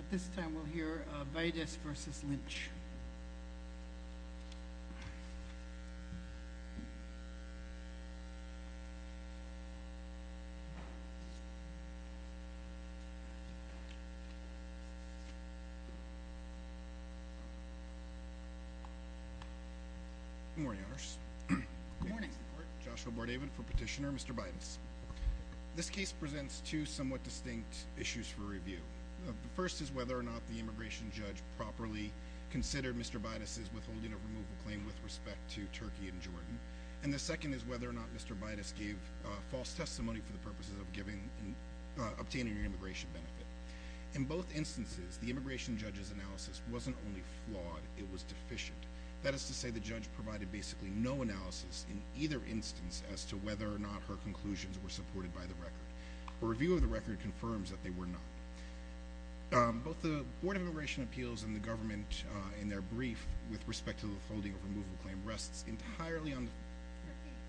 At this time, we'll hear Baidis v. Lynch. Good morning, Honors. Good morning. Joshua Bordavid for Petitioner. Mr. Baidis. This case presents two somewhat distinct issues for review. The first is whether or not the immigration judge properly considered Mr. Baidis' withholding of removal claim with respect to Turkey and Jordan. And the second is whether or not Mr. Baidis gave false testimony for the purposes of obtaining an immigration benefit. In both instances, the immigration judge's analysis wasn't only flawed, it was deficient. That is to say, the judge provided basically no analysis in either instance as to whether or not her conclusions were supported by the record. A review of the record confirms that they were not. Both the Board of Immigration Appeals and the government in their brief with respect to the withholding of removal claim rests entirely on... Turkey and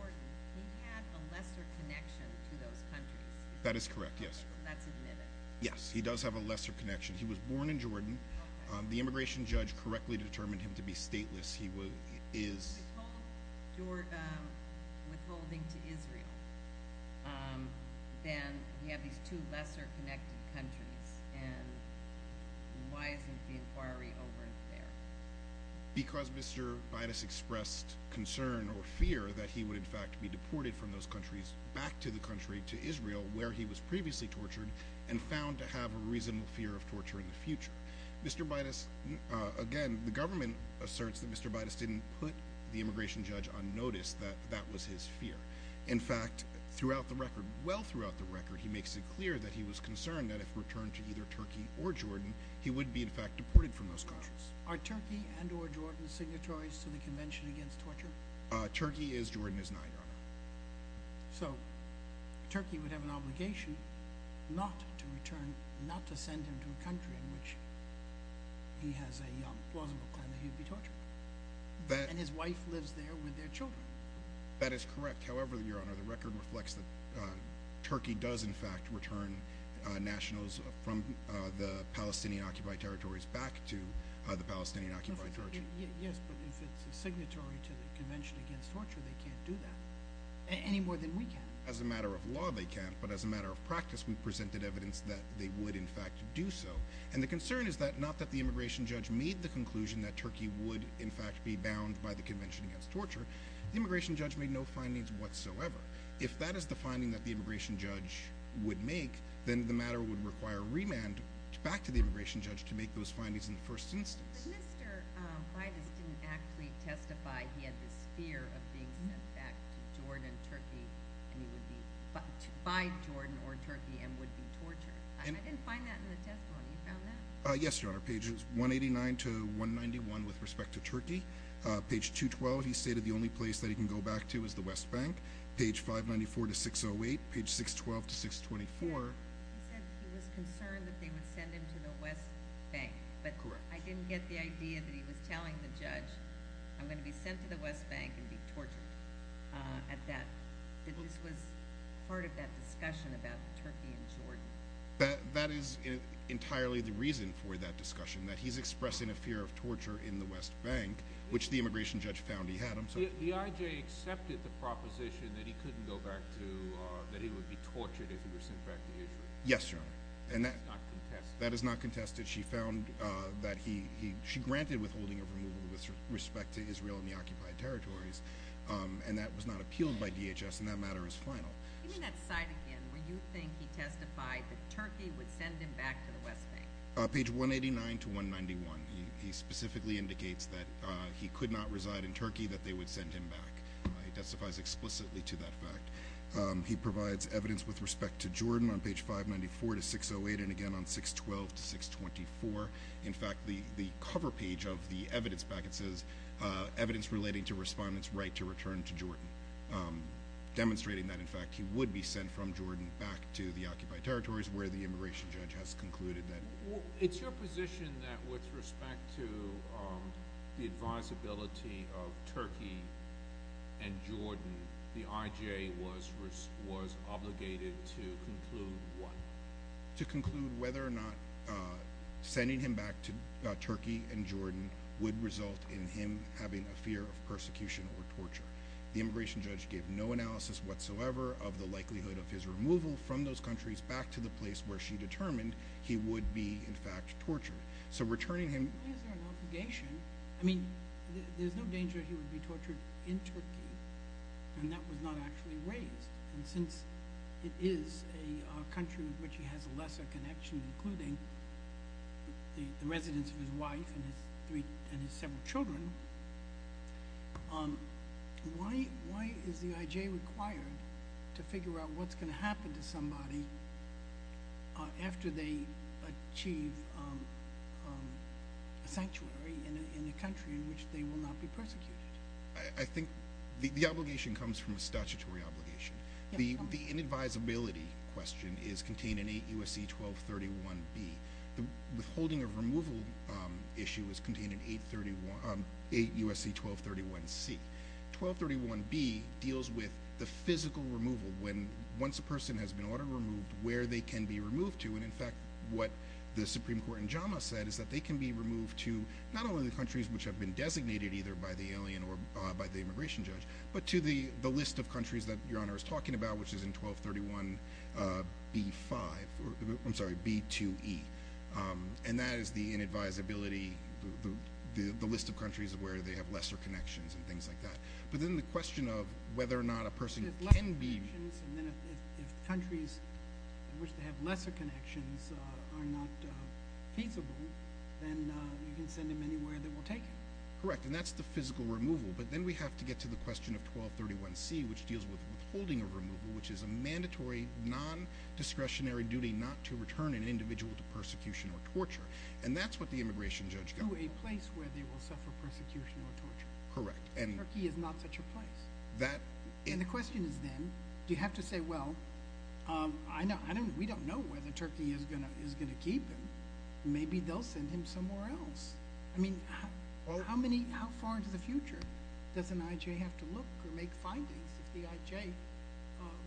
Jordan. He had a lesser connection to those countries. That is correct, yes. That's admitted. Yes, he does have a lesser connection. He was born in Jordan. The immigration judge correctly determined him to be stateless. He is... Withholding to Israel. Then you have these two lesser connected countries. And why isn't the inquiry over there? Because Mr. Baidis expressed concern or fear that he would in fact be deported from those countries back to the country, to Israel, where he was previously tortured and found to have a reasonable fear of torture in the future. Mr. Baidis... Again, the government asserts that Mr. Baidis didn't put the immigration judge on notice, that that was his fear. In fact, throughout the record, well throughout the record, he makes it clear that he was concerned that if returned to either Turkey or Jordan, he would be in fact deported from those countries. Are Turkey and or Jordan signatories to the Convention Against Torture? Turkey is. Jordan is not, Your Honor. So, Turkey would have an obligation not to return, not to send him to a country in which he has a plausible claim that he would be tortured. And his wife lives there with their children. That is correct. However, Your Honor, the record reflects that Turkey does in fact return nationals from the Palestinian Occupied Territories back to the Palestinian Occupied Territories. Yes, but if it's a signatory to the Convention Against Torture, they can't do that. Any more than we can. As a matter of law, they can't. But as a matter of practice, we presented evidence that they would in fact do so. And the concern is not that the immigration judge made the conclusion that Turkey would in fact be bound by the Convention Against Torture. The immigration judge made no findings whatsoever. If that is the finding that the immigration judge would make, then the matter would require remand back to the immigration judge to make those findings in the first instance. But Mr. Bidas didn't actually testify he had this fear of being sent back to Jordan, Turkey, by Jordan or Turkey, and would be tortured. I didn't find that in the testimony. You found that? Yes, Your Honor. Pages 189 to 191 with respect to Turkey. Page 212, he stated the only place that he can go back to is the West Bank. Page 594 to 608, page 612 to 624. He said he was concerned that they would send him to the West Bank. Correct. But I didn't get the idea that he was telling the judge, I'm going to be sent to the West Bank and be tortured. This was part of that discussion about Turkey and Jordan. That is entirely the reason for that discussion, that he's expressing a fear of torture in the West Bank, which the immigration judge found he had. The IJ accepted the proposition that he couldn't go back to, that he would be tortured if he were sent back to Israel. Yes, Your Honor. That is not contested. She found that he, she granted withholding of removal with respect to Israel and the occupied territories, and that was not appealed by DHS, and that matter is final. Give me that side again, where you think he testified that Turkey would send him back to the West Bank. Page 189 to 191, he specifically indicates that he could not reside in Turkey, that they would send him back. He testifies explicitly to that fact. He provides evidence with respect to Jordan on page 594 to 608, and again on 612 to 624. In fact, the cover page of the evidence packet says, evidence relating to respondents' right to return to Jordan, demonstrating that, in fact, he would be sent from Jordan back to the occupied territories, where the immigration judge has concluded that. It's your position that with respect to the advisability of Turkey and Jordan, the IJ was obligated to conclude what? To conclude whether or not sending him back to Turkey and Jordan would result in him having a fear of persecution or torture. The immigration judge gave no analysis whatsoever of the likelihood of his removal from those countries, back to the place where she determined he would be, in fact, tortured. So, returning him… Why is there an obligation? I mean, there's no danger he would be tortured in Turkey, and that was not actually raised. And since it is a country with which he has a lesser connection, including the residence of his wife and his several children, why is the IJ required to figure out what's going to happen to somebody after they achieve a sanctuary in a country in which they will not be persecuted? I think the obligation comes from a statutory obligation. The inadvisability question is contained in 8 U.S.C. 1231b. The withholding of removal issue is contained in 8 U.S.C. 1231c. 1231b deals with the physical removal, when once a person has been ordered removed, where they can be removed to. And, in fact, what the Supreme Court in JAMA said is that they can be removed to not only the countries which have been designated either by the alien or by the immigration judge, but to the list of countries that Your Honor is talking about, which is in 1231b-5, I'm sorry, b-2e. And that is the inadvisability, the list of countries where they have lesser connections and things like that. But then the question of whether or not a person can be… If countries in which they have lesser connections are not feasible, then you can send them anywhere they will take him. Correct. And that's the physical removal. But then we have to get to the question of 1231c, which deals with withholding of removal, which is a mandatory non-discretionary duty not to return an individual to persecution or torture. And that's what the immigration judge got. To a place where they will suffer persecution or torture. Correct. Turkey is not such a place. And the question is then, do you have to say, well, we don't know where the Turkey is going to keep him. Maybe they'll send him somewhere else. I mean, how far into the future does an I.J. have to look or make findings if the I.J.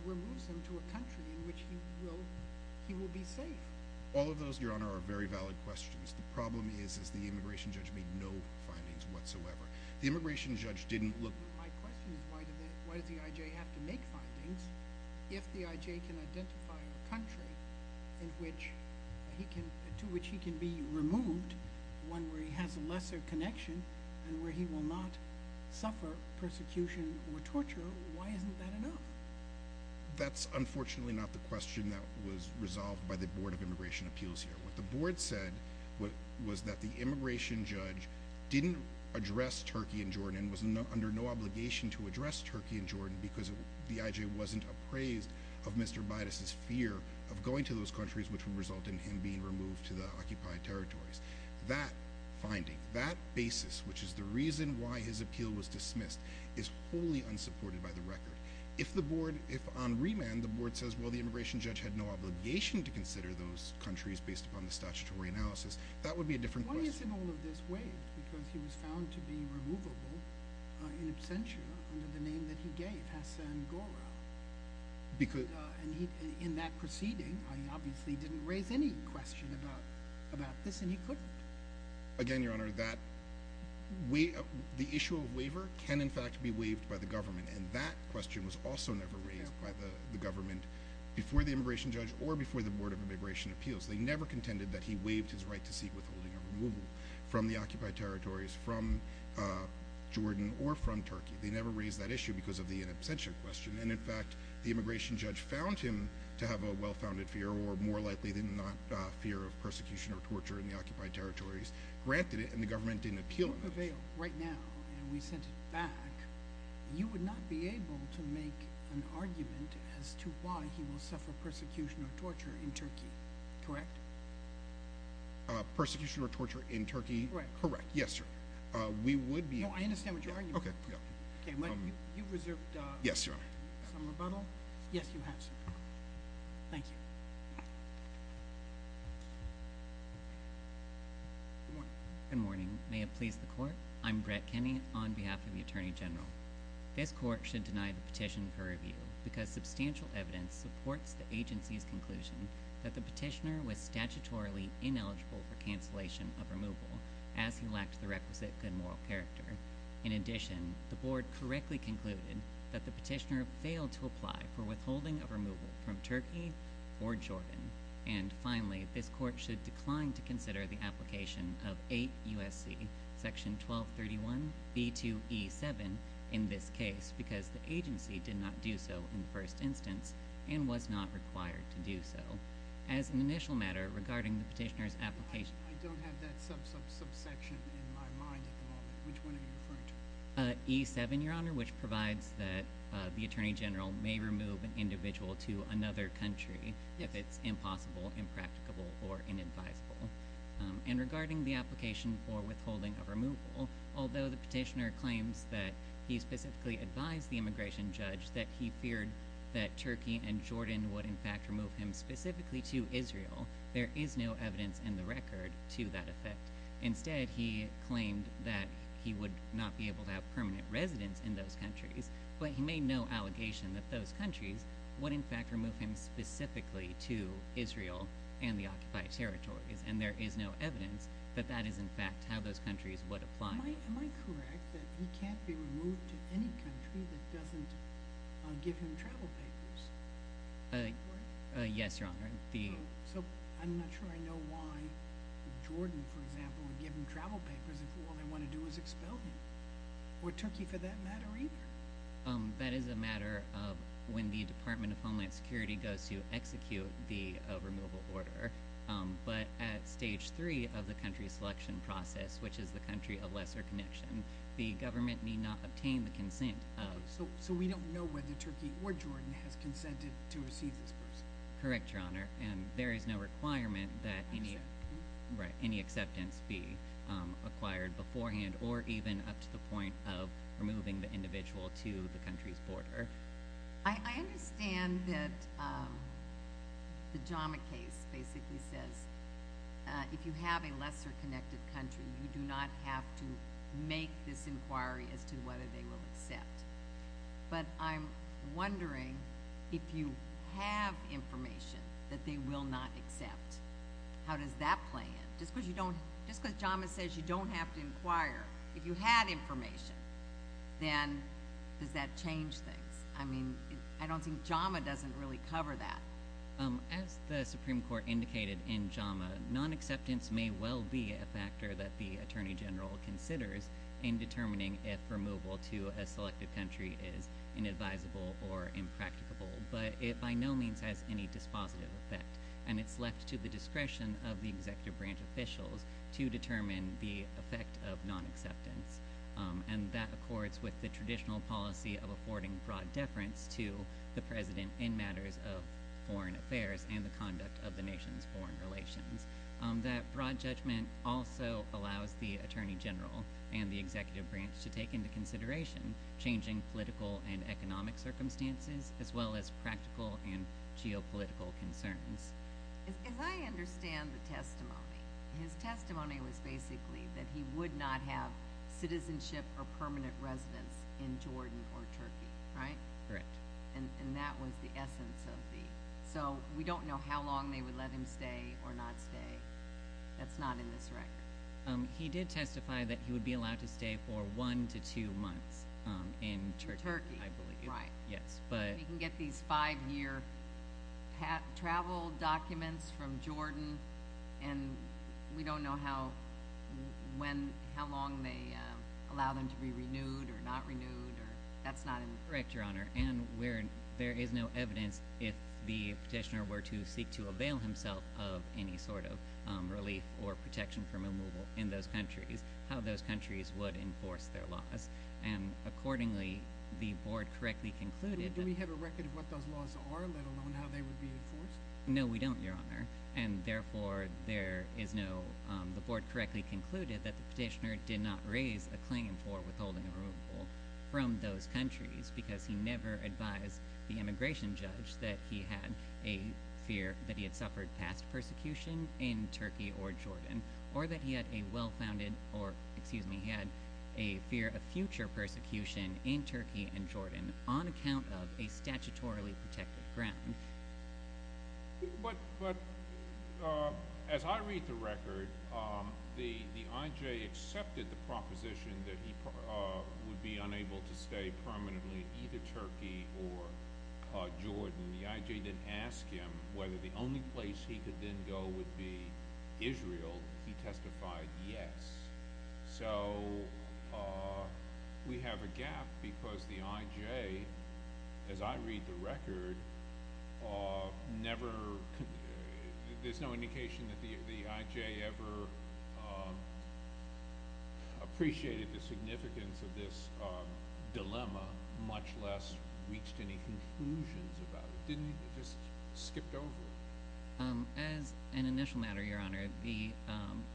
removes him to a country in which he will be safe? All of those, Your Honor, are very valid questions. The problem is the immigration judge made no findings whatsoever. The immigration judge didn't look… My question is, why does the I.J. have to make findings if the I.J. can identify a country to which he can be removed, one where he has a lesser connection and where he will not suffer persecution or torture? Why isn't that enough? That's unfortunately not the question that was resolved by the Board of Immigration Appeals here. What the Board said was that the immigration judge didn't address Turkey and Jordan and was under no obligation to address Turkey and Jordan because the I.J. wasn't appraised of Mr. Bidas' fear of going to those countries which would result in him being removed to the occupied territories. That finding, that basis, which is the reason why his appeal was dismissed, is wholly unsupported by the record. If on remand the Board says, well, the immigration judge had no obligation to consider those countries based upon the statutory analysis, that would be a different question. Why isn't all of this waived? Because he was found to be removable in absentia under the name that he gave, Hasan Gora. In that proceeding, he obviously didn't raise any question about this and he couldn't. Again, Your Honor, the issue of waiver can in fact be waived by the government and that question was also never raised by the government before the immigration judge or before the Board of Immigration Appeals. They never contended that he waived his right to seek withholding or removal from the occupied territories, from Jordan or from Turkey. They never raised that issue because of the in absentia question. In fact, the immigration judge found him to have a well-founded fear or more likely than not fear of persecution or torture in the occupied territories, granted it, and the government didn't appeal it. If you prevail right now and we sent it back, you would not be able to make an argument as to why he will suffer persecution or torture in Turkey, correct? Persecution or torture in Turkey? Correct. Yes, sir. No, I understand what you're arguing. You reserved some rebuttal. Yes, Your Honor. Yes, you have, sir. Thank you. Good morning. Good morning. May it please the court. I'm Brett Kenney on behalf of the Attorney General. This court should deny the petition for review because substantial evidence supports the agency's conclusion that the petitioner was statutorily ineligible for cancellation of removal as he lacked the requisite good moral character. In addition, the board correctly concluded that the petitioner failed to apply for withholding of removal from Turkey or Jordan. And finally, this court should decline to consider the application of 8 U.S.C. section 1231b2e7 in this case because the agency did not do so in the first instance and was not required to do so. As an initial matter regarding the petitioner's application. I don't have that subsection in my mind at the moment. Which one are you referring to? E-7, Your Honor, which provides that the Attorney General may remove an individual to another country if it's impossible, impracticable, or inadvisable. And regarding the application for withholding of removal, although the petitioner claims that he specifically advised the immigration judge that he feared that Turkey and Jordan would in fact remove him specifically to Israel, there is no evidence in the record to that effect. Instead, he claimed that he would not be able to have permanent residence in those countries, but he made no allegation that those countries would in fact remove him specifically to Israel and the occupied territories. And there is no evidence that that is in fact how those countries would apply. Am I correct that he can't be removed to any country that doesn't give him travel papers? Yes, Your Honor. So I'm not sure I know why Jordan, for example, would give him travel papers if all they want to do is expel him. Or Turkey for that matter either. That is a matter of when the Department of Homeland Security goes to execute the removal order. But at Stage 3 of the country selection process, which is the country of lesser connection, the government need not obtain the consent of... So we don't know whether Turkey or Jordan has consented to receive this person. Correct, Your Honor. And there is no requirement that any acceptance be acquired beforehand or even up to the point of removing the individual to the country's border. I understand that the JAMA case basically says if you have a lesser connected country, you do not have to make this inquiry as to whether they will accept. But I'm wondering if you have information that they will not accept, how does that play in? Just because JAMA says you don't have to inquire, if you had information, then does that change things? I mean, I don't think JAMA doesn't really cover that. As the Supreme Court indicated in JAMA, non-acceptance may well be a factor that the Attorney General considers in determining if removal to a selected country is inadvisable or impracticable. But it by no means has any dispositive effect. And it's left to the discretion of the executive branch officials to determine the effect of non-acceptance. And that accords with the traditional policy of affording broad deference to the President in matters of foreign affairs and the conduct of the nation's foreign relations. That broad judgment also allows the Attorney General and the executive branch to take into consideration changing political and economic circumstances as well as practical and geopolitical concerns. As I understand the testimony, his testimony was basically that he would not have citizenship or permanent residence in Jordan or Turkey, right? Correct. And that was the essence of the—so we don't know how long they would let him stay or not stay. That's not in this record. He did testify that he would be allowed to stay for one to two months in Turkey, I believe. In Turkey, right. Yes, but— But he can get these five-year travel documents from Jordan, and we don't know how long they allow them to be renewed or not renewed. That's not in— Correct, Your Honor. And there is no evidence, if the petitioner were to seek to avail himself of any sort of relief or protection from removal in those countries, how those countries would enforce their laws. And accordingly, the board correctly concluded that— Do we have a record of what those laws are, let alone how they would be enforced? But as I read the record, the I.J. accepted the proposition that he would be unable to stay permanently in either Turkey or Jordan. The I.J. didn't ask him whether the only place he could then go would be Israel. He testified yes. So we have a gap because the I.J., as I read the record, never—there's no indication that the I.J. ever appreciated the significance of this dilemma, much less reached any conclusions about it. It just skipped over. As an initial matter, Your Honor, the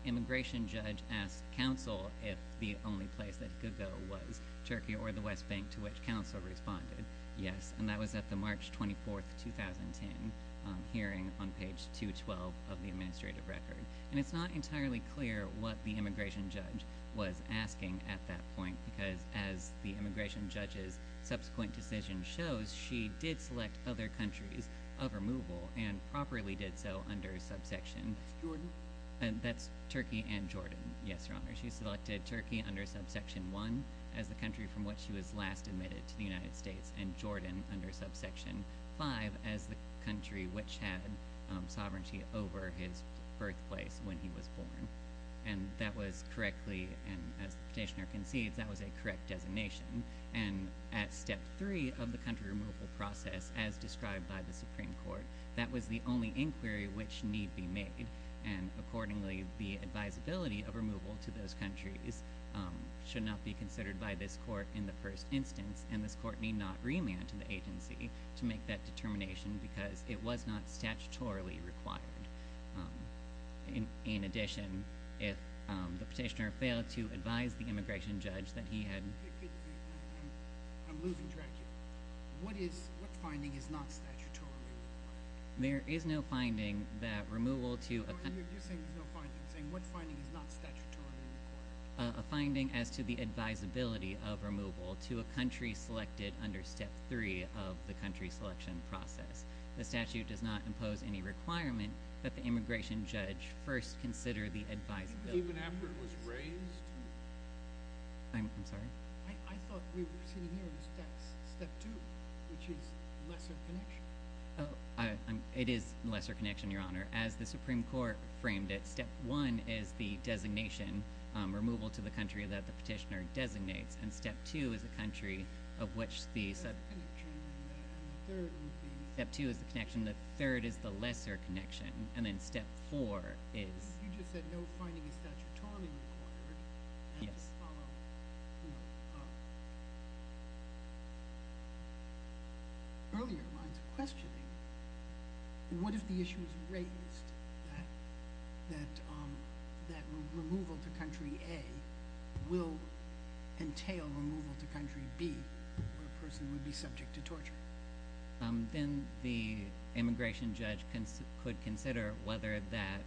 immigration judge asked counsel if the only place that he could go was Turkey or the West Bank, to which counsel responded yes, and that was at the March 24, 2010, hearing on page 212 of the administrative record. And it's not entirely clear what the immigration judge was asking at that point, because as the immigration judge's subsequent decision shows, she did select other countries of removal, and properly did so under subsection— Jordan? And that was correctly—and as the petitioner concedes, that was a correct designation. And at step 3 of the country removal process, as described by the Supreme Court, that was the only inquiry which need be made. And accordingly, the advisability of removal to those countries should not be considered by this court in the first instance, and this court need not remand to the agency to make that determination because it was not statutorily required. In addition, if the petitioner failed to advise the immigration judge that he had— I'm losing track here. What finding is not statutorily required? There is no finding that removal to— You're saying there's no finding. I'm saying what finding is not statutorily required? A finding as to the advisability of removal to a country selected under step 3 of the country selection process. The statute does not impose any requirement that the immigration judge first consider the advisability. Even after it was raised? I'm sorry? I thought we were sitting here in step 2, which is lesser connection. It is lesser connection, Your Honor. As the Supreme Court framed it, step 1 is the designation, removal to the country that the petitioner designates, and step 2 is the country of which the— Lesser connection, and the third would be— Step 2 is the connection, the third is the lesser connection, and then step 4 is— You just said no finding is statutorily required. Yes. Just to follow up on earlier lines of questioning, what if the issue is raised that removal to country A will entail removal to country B where a person would be subject to torture? Then the immigration judge could consider whether that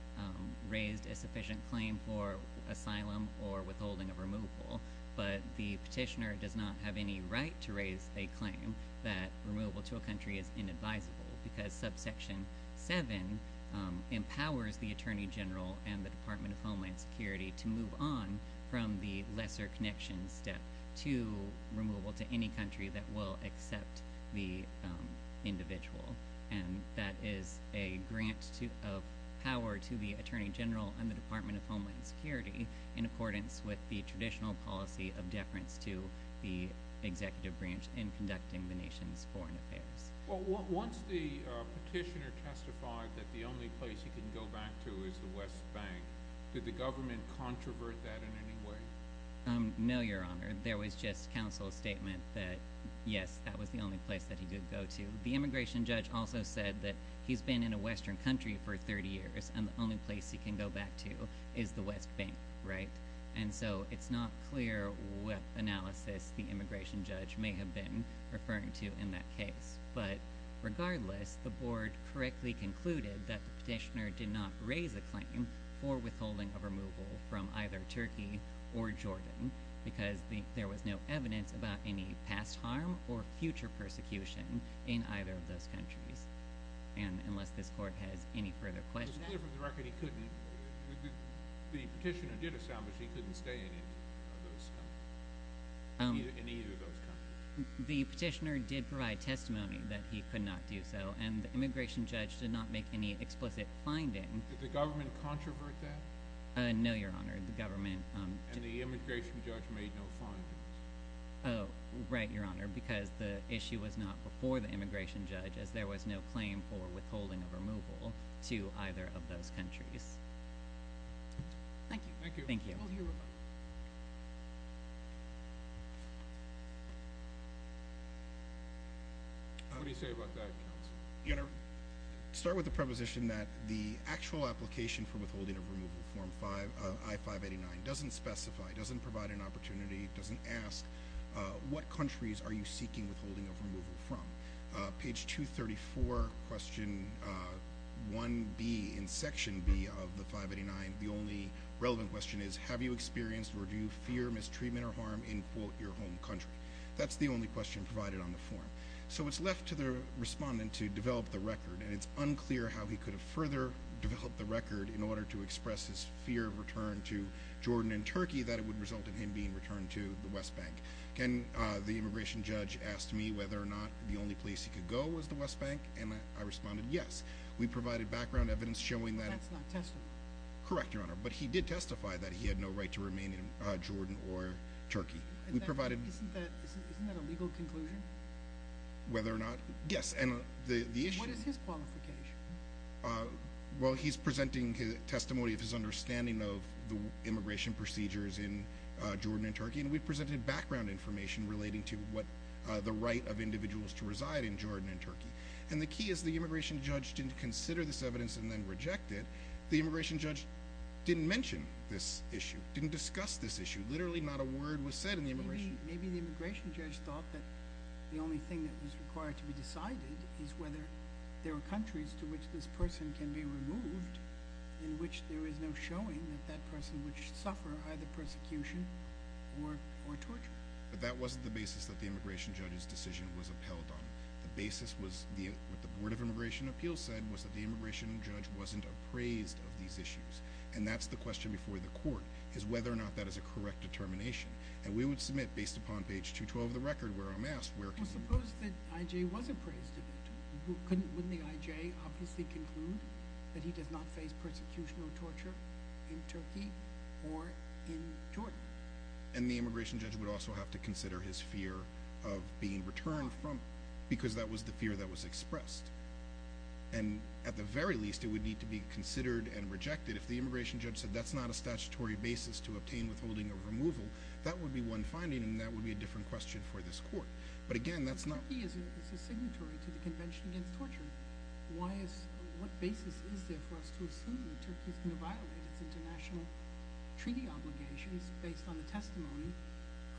raised a sufficient claim for asylum or withholding of removal, but the petitioner does not have any right to raise a claim that removal to a country is inadvisable, because subsection 7 empowers the Attorney General and the Department of Homeland Security to move on from the lesser connection step to removal to any country that will accept the individual, and that is a grant of power to the Attorney General and the Department of Homeland Security in accordance with the traditional policy of deference to the executive branch in conducting the nation's foreign affairs. Well, once the petitioner testified that the only place he can go back to is the West Bank, did the government controvert that in any way? No, Your Honor. There was just counsel's statement that, yes, that was the only place that he could go to. The immigration judge also said that he's been in a Western country for 30 years, and the only place he can go back to is the West Bank, right? And so it's not clear what analysis the immigration judge may have been referring to in that case, but regardless, the board correctly concluded that the petitioner did not raise a claim for withholding of removal from either Turkey or Jordan, because there was no evidence about any past harm or future persecution in either of those countries. And unless this court has any further questions— It was clear from the record he couldn't—the petitioner did establish he couldn't stay in either of those countries. The petitioner did provide testimony that he could not do so, and the immigration judge did not make any explicit finding— Did the government controvert that? No, Your Honor. The government— And the immigration judge made no findings. Right, Your Honor, because the issue was not before the immigration judge, as there was no claim for withholding of removal to either of those countries. Thank you. Thank you. Thank you. What do you say about that, counsel? Your Honor, to start with the preposition that the actual application for withholding of removal, Form I-589, doesn't specify, doesn't provide an opportunity, doesn't ask, what countries are you seeking withholding of removal from? Page 234, Question 1B, in Section B of the 589, the only relevant question is, have you experienced or do you fear mistreatment or harm in, quote, your home country? That's the only question provided on the form. So it's left to the respondent to develop the record, and it's unclear how he could have further developed the record in order to express his fear of return to Jordan and Turkey that it would result in him being returned to the West Bank. The immigration judge asked me whether or not the only place he could go was the West Bank, and I responded yes. We provided background evidence showing that— But that's not testimony. Correct, Your Honor, but he did testify that he had no right to remain in Jordan or Turkey. Isn't that a legal conclusion? Whether or not—yes, and the issue— What is his qualification? Well, he's presenting testimony of his understanding of the immigration procedures in Jordan and Turkey, and we've presented background information relating to what—the right of individuals to reside in Jordan and Turkey. And the key is the immigration judge didn't consider this evidence and then reject it. The immigration judge didn't mention this issue, didn't discuss this issue. Literally not a word was said in the immigration— Maybe the immigration judge thought that the only thing that was required to be decided is whether there are countries to which this person can be removed in which there is no showing that that person would suffer either persecution or torture. But that wasn't the basis that the immigration judge's decision was upheld on. The basis was—what the Board of Immigration Appeals said was that the immigration judge wasn't appraised of these issues, and that's the question before the court, is whether or not that is a correct determination. And we would submit, based upon page 212 of the record where I'm asked, where— Well, suppose that I.J. was appraised of it. Couldn't—wouldn't the I.J. obviously conclude that he does not face persecution or torture in Turkey or in Jordan? And the immigration judge would also have to consider his fear of being returned from— Why? Because that was the fear that was expressed. And at the very least, it would need to be considered and rejected. If the immigration judge said that's not a statutory basis to obtain, withholding, or removal, that would be one finding, and that would be a different question for this court. But again, that's not— But Turkey is a signatory to the Convention Against Torture. Why is—what basis is there for us to assume that Turkey is going to violate its international treaty obligations based on the testimony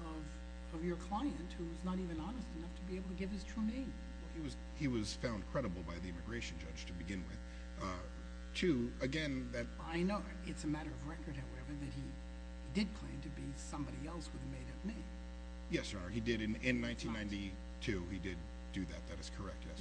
of your client, who is not even honest enough to be able to give his true name? Well, he was found credible by the immigration judge to begin with. To—again, that— I know. It's a matter of record, however, that he did claim to be somebody else with a made-up name. Yes, Your Honor. He did. In 1992, he did do that. That is correct, yes.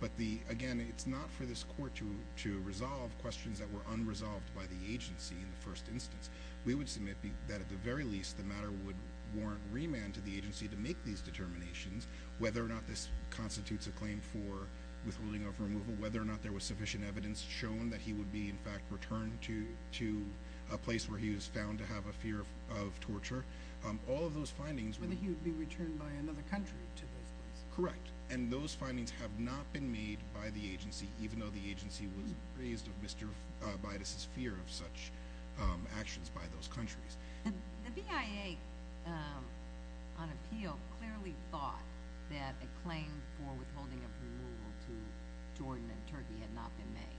But the—again, it's not for this court to resolve questions that were unresolved by the agency in the first instance. We would submit that, at the very least, the matter would warrant remand to the agency to make these determinations, whether or not this constitutes a claim for withholding or removal, whether or not there was sufficient evidence shown that he would be, in fact, returned to a place where he was found to have a fear of torture. All of those findings— Whether he would be returned by another country to those places. Correct. And those findings have not been made by the agency, even though the agency was raised of Mr. Bidas's fear of such actions by those countries. The BIA, on appeal, clearly thought that a claim for withholding of removal to Jordan and Turkey had not been made.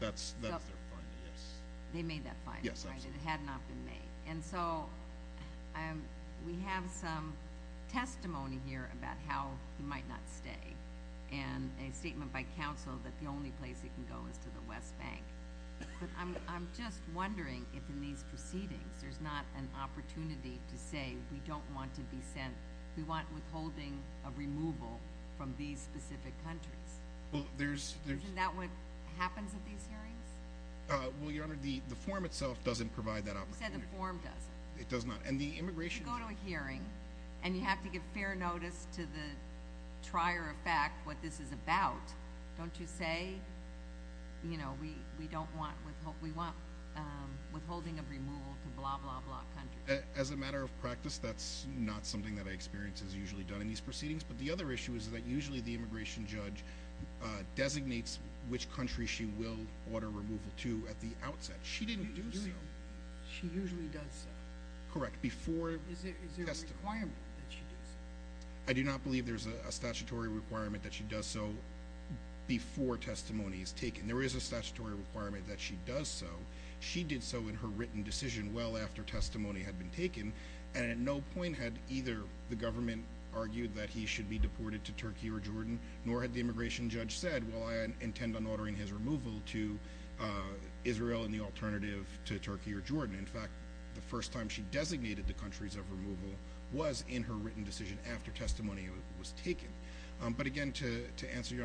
That's their finding, yes. They made that finding, right? Yes, absolutely. And it had not been made. And so, we have some testimony here about how he might not stay, and a statement by counsel that the only place he can go is to the West Bank. But I'm just wondering if, in these proceedings, there's not an opportunity to say, we don't want to be sent—we want withholding of removal from these specific countries. Well, there's— Is that what happens at these hearings? Well, Your Honor, the form itself doesn't provide that opportunity. You said the form doesn't. It does not. And the immigration— You go to a hearing, and you have to give fair notice to the trier of fact what this is about. Don't you say, you know, we don't want—we want withholding of removal to blah, blah, blah countries. As a matter of practice, that's not something that I experience is usually done in these proceedings. But the other issue is that usually the immigration judge designates which country she will order removal to at the outset. She didn't do so. She usually does so. Correct. Before testimony. Is there a requirement that she does so? I do not believe there's a statutory requirement that she does so before testimony is taken. There is a statutory requirement that she does so. She did so in her written decision well after testimony had been taken, and at no point had either the government argued that he should be deported to Turkey or Jordan, nor had the immigration judge said, well, I intend on ordering his removal to Israel in the alternative to Turkey or Jordan. In fact, the first time she designated the countries of removal was in her written decision after testimony was taken. But again, to answer Your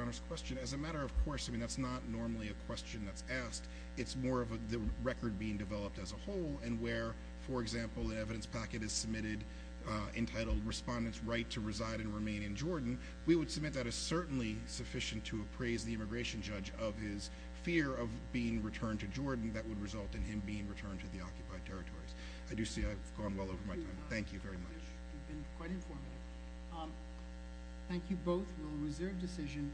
Honor's question, as a matter of course, I mean, that's not normally a question that's asked. It's more of the record being developed as a whole and where, for example, an evidence packet is submitted entitled Respondents' Right to Reside and Remain in Jordan, we would submit that is certainly sufficient to appraise the immigration judge of his fear of being returned to Jordan that would result in him being returned to the occupied territories. I do see I've gone well over my time. Thank you very much. You've been quite informative. Thank you both. We'll reserve decision.